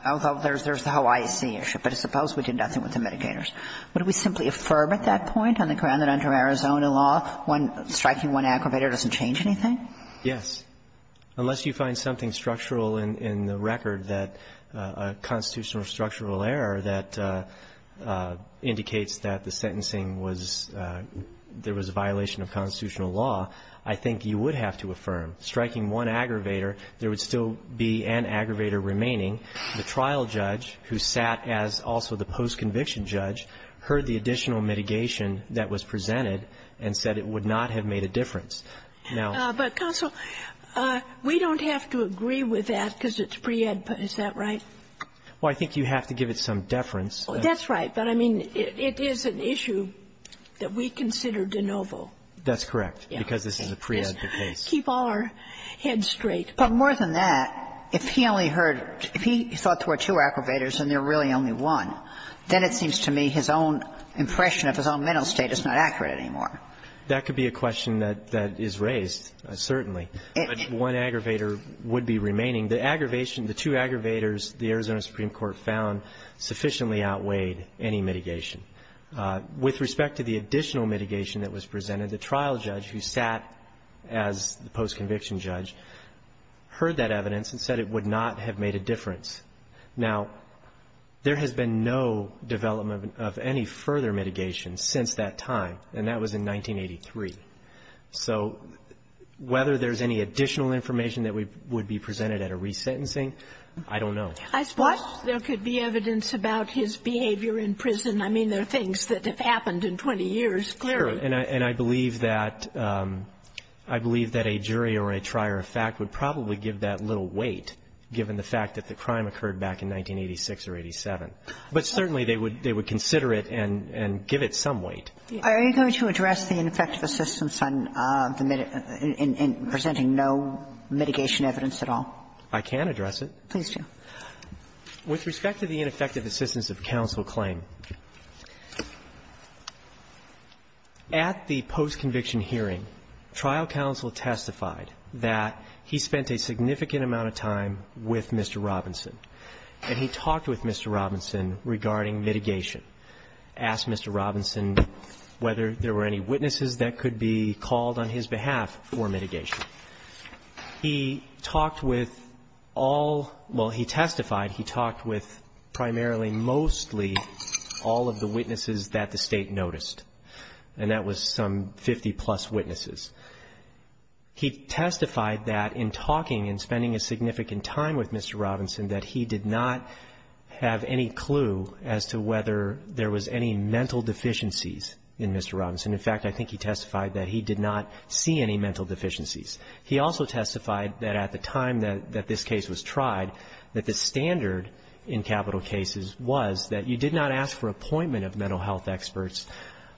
although there's the Hawaii Sea issue, but suppose we did nothing with the mitigators, would we simply affirm at that point on the ground that under Arizona law, striking one aggravator doesn't change anything? Yes, unless you find something structural in the record that a constitutional error that indicates that the sentencing was, there was a violation of constitutional law, I think you would have to affirm. Striking one aggravator, there would still be an aggravator remaining. The trial judge, who sat as also the post-conviction judge, heard the additional mitigation that was presented and said it would not have made a difference. But, counsel, we don't have to agree with that because it's preed, is that right? Well, I think you have to give it some deference. That's right. But, I mean, it is an issue that we consider de novo. That's correct, because this is a preed case. Keep all our heads straight. But more than that, if he only heard, if he thought there were two aggravators and there were really only one, then it seems to me his own impression of his own mental state is not accurate anymore. That could be a question that is raised, certainly. But one aggravator would be remaining. The aggravation, the two aggravators the Arizona Supreme Court found sufficiently outweighed any mitigation. With respect to the additional mitigation that was presented, the trial judge, who sat as the post-conviction judge, heard that evidence and said it would not have made a difference. Now, there has been no development of any further mitigation since that time, and that was in 1983. So whether there's any additional information that would be presented at a resentencing, I don't know. I suppose there could be evidence about his behavior in prison. I mean, there are things that have happened in 20 years, clearly. Sure. And I believe that a jury or a trier of fact would probably give that little weight, given the fact that the crime occurred back in 1986 or 87. But certainly they would consider it and give it some weight. Are you going to address the ineffective assistance in presenting no mitigation evidence at all? I can address it. Please do. With respect to the ineffective assistance of counsel claim, at the post-conviction hearing, trial counsel testified that he spent a significant amount of time with Mr. Robinson, and he talked with Mr. Robinson regarding mitigation. Asked Mr. Robinson whether there were any witnesses that could be called on his behalf for mitigation. He talked with all — well, he testified he talked with primarily, mostly all of the witnesses that the State noticed, and that was some 50-plus witnesses. He testified that in talking and spending a significant time with Mr. Robinson, that he did not have any clue as to whether there was any mental deficiencies in Mr. Robinson. In fact, I think he testified that he did not see any mental deficiencies. He also testified that at the time that this case was tried, that the standard in capital cases was that you did not ask for appointment of mental health experts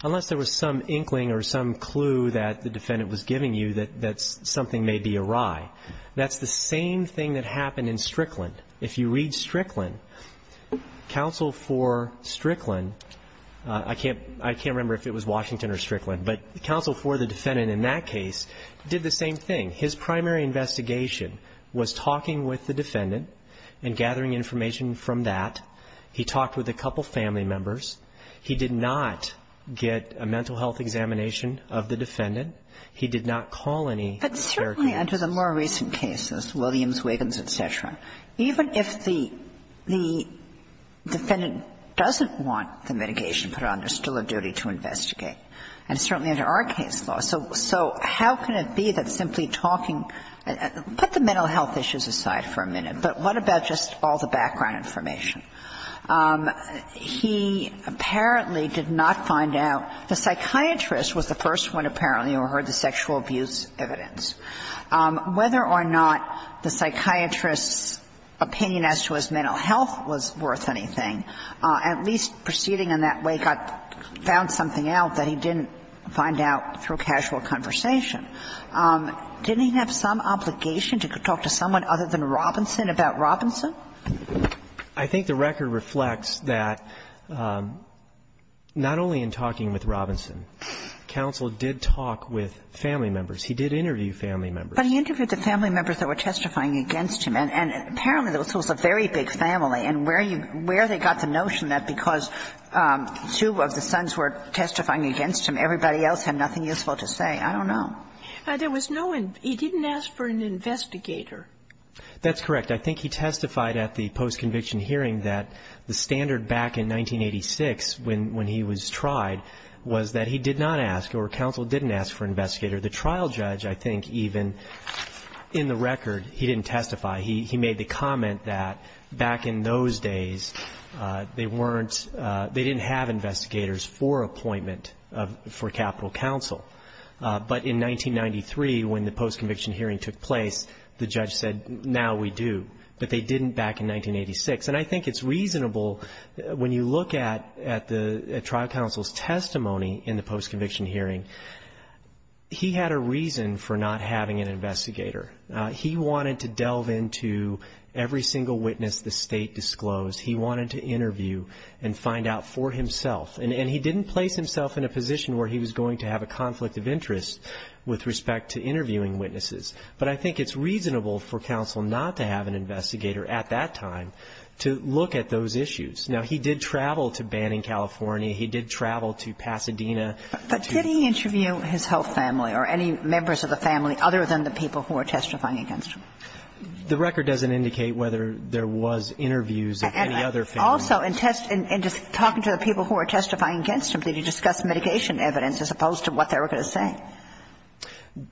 unless there was some inkling or some clue that the defendant was giving you that something may be awry. That's the same thing that happened in Strickland. If you read Strickland, counsel for Strickland — I can't remember if it was Washington or Strickland, but counsel for the defendant in that case did the same thing. His primary investigation was talking with the defendant and gathering information from that. He talked with a couple family members. He did not get a mental health examination of the defendant. He did not call any caregivers. But certainly under the more recent cases, Williams, Wiggins, et cetera, even if the defendant doesn't want the mitigation put on, there's still a duty to investigate. And certainly under our case law. So how can it be that simply talking — put the mental health issues aside for a minute, but what about just all the background information? He apparently did not find out. The psychiatrist was the first one apparently who heard the sexual abuse evidence. Whether or not the psychiatrist's opinion as to his mental health was worth anything, at least proceeding in that way, found something out that he didn't find out through casual conversation. Didn't he have some obligation to talk to someone other than Robinson about Robinson? I think the record reflects that not only in talking with Robinson, counsel did talk with family members. He did interview family members. But he interviewed the family members that were testifying against him. And apparently this was a very big family. And where you — where they got the notion that because two of the sons were testifying against him, everybody else had nothing useful to say, I don't know. There was no — he didn't ask for an investigator. That's correct. I think he testified at the post-conviction hearing that the standard back in 1986, when he was tried, was that he did not ask or counsel didn't ask for an investigator. The trial judge, I think, even in the record, he didn't testify. He made the comment that back in those days, they weren't — they didn't have investigators for appointment for capital counsel. But in 1993, when the post-conviction hearing took place, the judge said, now we do. But they didn't back in 1986. And I think it's reasonable, when you look at the trial counsel's testimony in the post-conviction hearing, he had a reason for not having an investigator. He wanted to delve into every single witness the State disclosed. He wanted to interview and find out for himself. And he didn't place himself in a position where he was going to have a conflict of interest with respect to interviewing witnesses. But I think it's reasonable for counsel not to have an investigator at that time to look at those issues. Now, he did travel to Banning, California. He did travel to Pasadena. But did he interview his whole family or any members of the family other than the people who were testifying against him? The record doesn't indicate whether there was interviews of any other family. And also, in talking to the people who were testifying against him, did he discuss mitigation evidence as opposed to what they were going to say?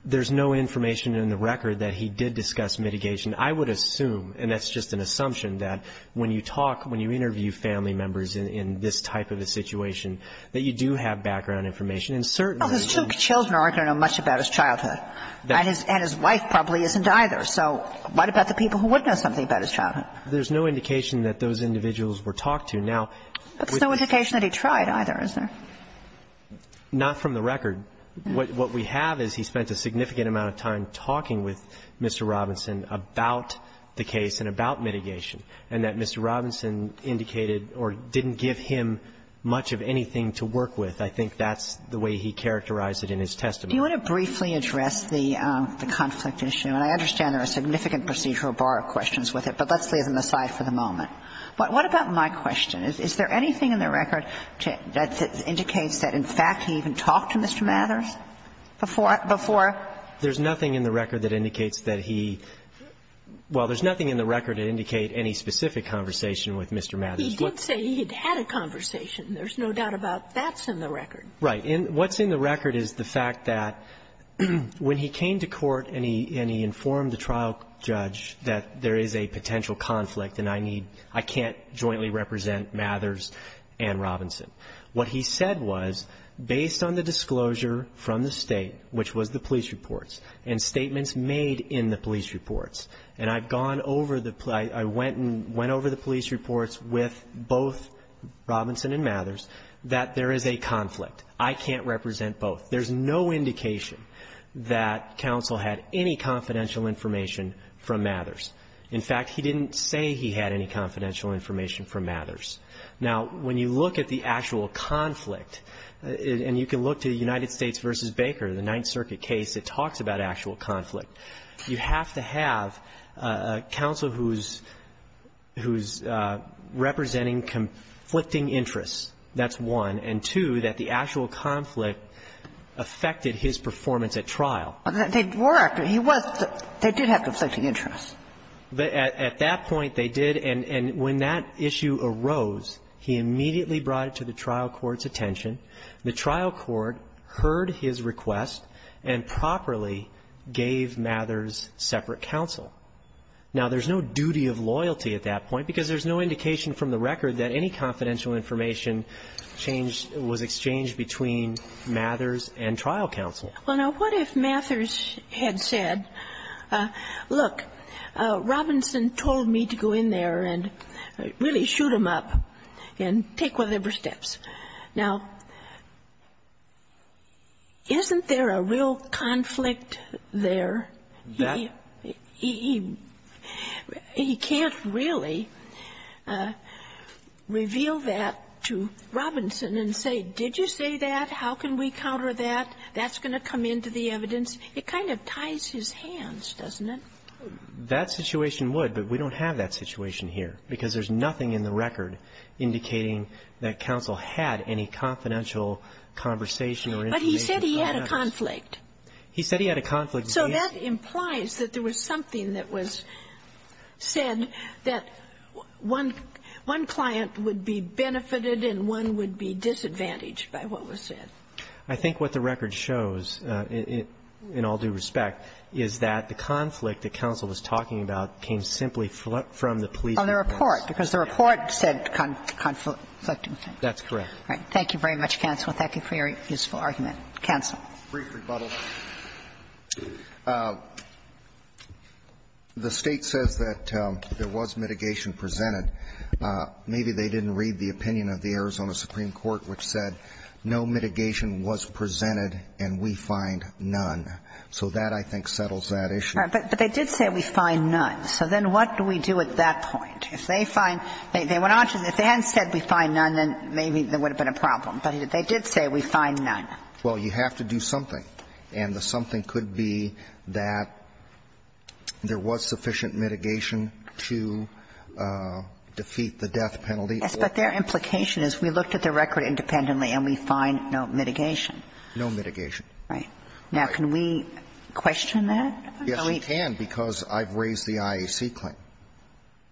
There's no information in the record that he did discuss mitigation. I would assume, and that's just an assumption, that when you talk, when you interview family members in this type of a situation, that you do have background information. And certainly, there's no indication. Well, his two children aren't going to know much about his childhood. And his wife probably isn't either. So what about the people who would know something about his childhood? There's no indication that those individuals were talked to. That's no indication that he tried either, is there? Not from the record. What we have is he spent a significant amount of time talking with Mr. Robinson about the case and about mitigation, and that Mr. Robinson indicated or didn't give him much of anything to work with. I think that's the way he characterized it in his testimony. Do you want to briefly address the conflict issue? And I understand there are significant procedural bar questions with it, but let's leave them aside for the moment. What about my question? Is there anything in the record that indicates that, in fact, he even talked to Mr. Mathers before? There's nothing in the record that indicates that he – well, there's nothing in the record that indicates any specific conversation with Mr. Mathers. He did say he had had a conversation. There's no doubt about that's in the record. Right. What's in the record is the fact that when he came to court and he informed the trial judge that there is a potential conflict and I need – I can't jointly represent Mathers and Robinson. What he said was, based on the disclosure from the State, which was the police reports, and statements made in the police reports, and I've gone over the – I went and went over the police reports with both Robinson and Mathers, that there is a conflict. I can't represent both. There's no indication that counsel had any confidential information from Mathers. In fact, he didn't say he had any confidential information from Mathers. Now, when you look at the actual conflict, and you can look to the United States v. Baker, the Ninth Circuit case, it talks about actual conflict. You have to have a counsel who's representing conflicting interests. That's one. And, two, that the actual conflict affected his performance at trial. They were. He was – they did have conflicting interests. At that point, they did. And when that issue arose, he immediately brought it to the trial court's attention. The trial court heard his request and properly gave Mathers separate counsel. Now, there's no duty of loyalty at that point, because there's no indication from the record that any confidential information changed – was exchanged between Mathers and trial counsel. Well, now, what if Mathers had said, look, Robinson told me to go in there and really shoot him up and take whatever steps. Now, isn't there a real conflict there? He can't really reveal that to Robinson and say, did you say that? How can we counter that? That's going to come into the evidence. It kind of ties his hands, doesn't it? That situation would, but we don't have that situation here, because there's nothing in the record indicating that counsel had any confidential conversation or information about Mathers. But he said he had a conflict. He said he had a conflict. So that implies that there was something that was said that one – one client would be benefited and one would be disadvantaged by what was said. I think what the record shows, in all due respect, is that the conflict that counsel was talking about came simply from the police department. And the report, because the report said conflicting things. That's correct. Thank you very much, counsel, and thank you for your useful argument. Counsel. Brief rebuttal. The State says that there was mitigation presented. Maybe they didn't read the opinion of the Arizona Supreme Court, which said no mitigation was presented and we find none. So that, I think, settles that issue. But they did say we find none. So then what do we do at that point? If they find – they went on to – if they hadn't said we find none, then maybe there would have been a problem. But they did say we find none. Well, you have to do something. And the something could be that there was sufficient mitigation to defeat the death penalty. Yes, but their implication is we looked at the record independently and we find no mitigation. No mitigation. Right. Now, can we question that? Yes, you can, because I've raised the IAC claim.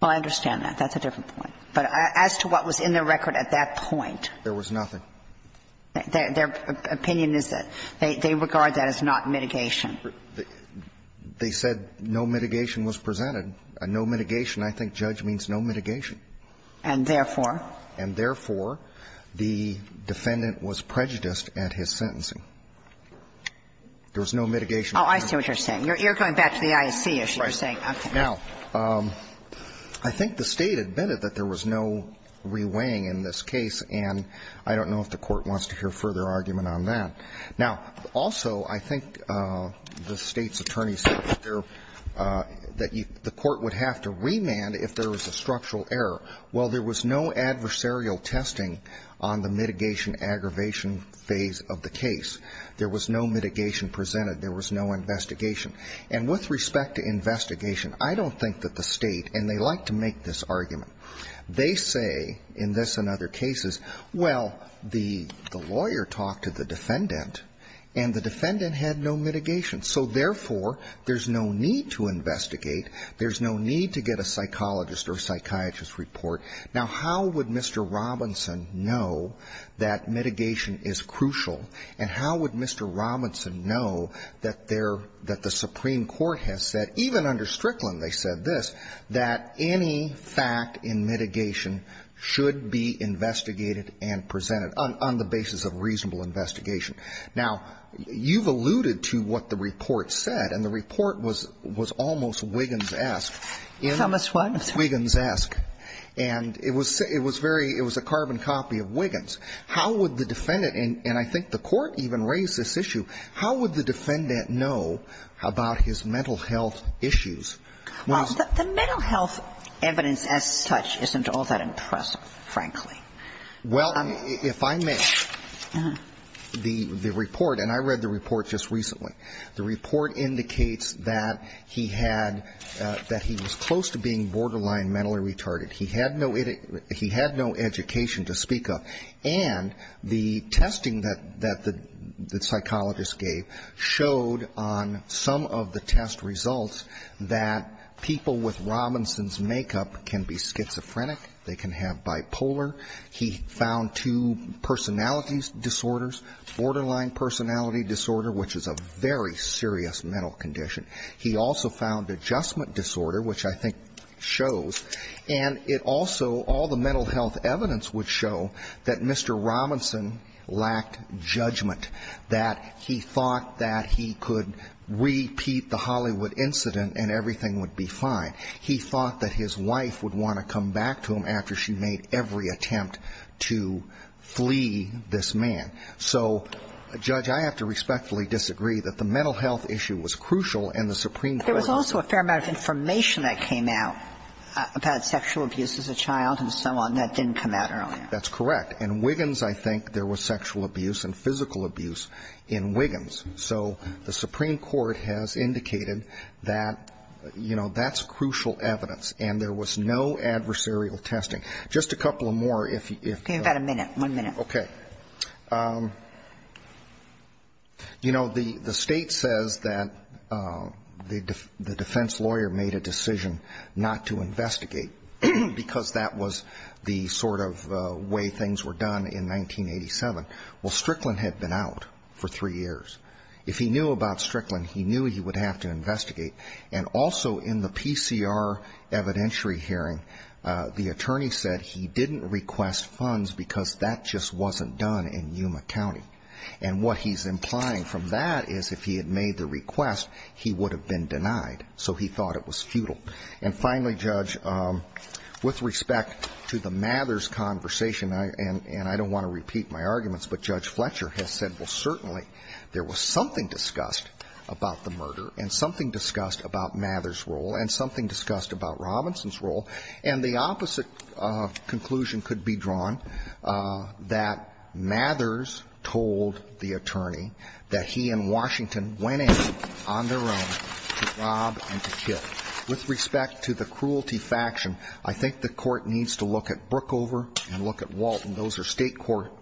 Well, I understand that. That's a different point. But as to what was in the record at that point? There was nothing. Their opinion is that they regard that as not mitigation. They said no mitigation was presented. No mitigation. I think judge means no mitigation. And therefore? And therefore, the defendant was prejudiced at his sentencing. There was no mitigation. Oh, I see what you're saying. You're going back to the IAC issue. Right. You're saying, okay. Now, I think the State admitted that there was no reweighing in this case, and I don't know if the Court wants to hear further argument on that. Now, also, I think the State's attorney said that there – that the Court would have to remand if there was a structural error. Well, there was no adversarial testing on the mitigation-aggravation phase of the case. There was no mitigation presented. There was no investigation. And with respect to investigation, I don't think that the State – and they like to make this argument – they say, in this and other cases, well, the lawyer talked to the defendant, and the defendant had no mitigation. So, therefore, there's no need to investigate. There's no need to get a psychologist or a psychiatrist's report. Now, how would Mr. Robinson know that mitigation is crucial, and how would Mr. Robinson know that there – that the Supreme Court has said, even under Strickland they said this, that any fact in mitigation should be investigated and presented on the basis of reasonable investigation? Now, you've alluded to what the report said, and the report was – was almost Wiggins-esque. Thomas, what? Wiggins-esque. Well, the mental health evidence as such isn't all that impressive, frankly. Well, if I may, the report – and I read the report just recently. The report indicates that he had – that he was close to being borderline mentally retarded. He had no – he had no education to speak of. And he had no education to speak of. And the testing that – that the psychologist gave showed on some of the test results that people with Robinson's makeup can be schizophrenic, they can have bipolar. He found two personality disorders, borderline personality disorder, which is a very serious mental condition. He also found adjustment disorder, which I think shows. And it also – all the mental health evidence would show that Mr. Robinson lacked judgment, that he thought that he could repeat the Hollywood incident and everything would be fine. He thought that his wife would want to come back to him after she made every attempt to flee this man. So, Judge, I have to respectfully disagree that the mental health issue was crucial and the Supreme Court is not. But there was a fair amount of information that came out about sexual abuse as a child and so on that didn't come out earlier. That's correct. In Wiggins, I think, there was sexual abuse and physical abuse in Wiggins. So the Supreme Court has indicated that, you know, that's crucial evidence. And there was no adversarial testing. Just a couple of more, if you – Give me about a minute, one minute. Okay. You know, the State says that the defense lawyer made a decision not to investigate because that was the sort of way things were done in 1987. Well, Strickland had been out for three years. If he knew about Strickland, he knew he would have to investigate. And also in the PCR evidentiary hearing, the attorney said he didn't request funds because that just wasn't done in Yuma County. And what he's implying from that is if he had made the request, he would have been denied. So he thought it was futile. And finally, Judge, with respect to the Mathers conversation, and I don't want to repeat my arguments, but Judge Fletcher has said, well, certainly there was something discussed about the murder and something discussed about Mathers' role and something discussed about Robinson's role. And the opposite conclusion could be drawn, that Mathers told the attorney that he and Washington went in on their own to rob and to kill. With respect to the cruelty faction, I think the Court needs to look at Brookover and look at Walton. Those are State court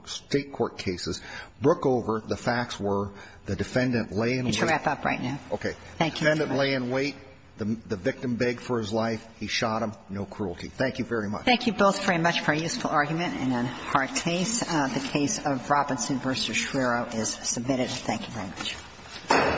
cases. Brookover, the facts were the defendant lay in wait. You need to wrap up right now. Okay. Thank you. The defendant lay in wait. The victim begged for his life. He shot him. No cruelty. Thank you very much. Thank you both very much for a useful argument and a hard case. The case of Robinson v. Schreiro is submitted. Thank you very much.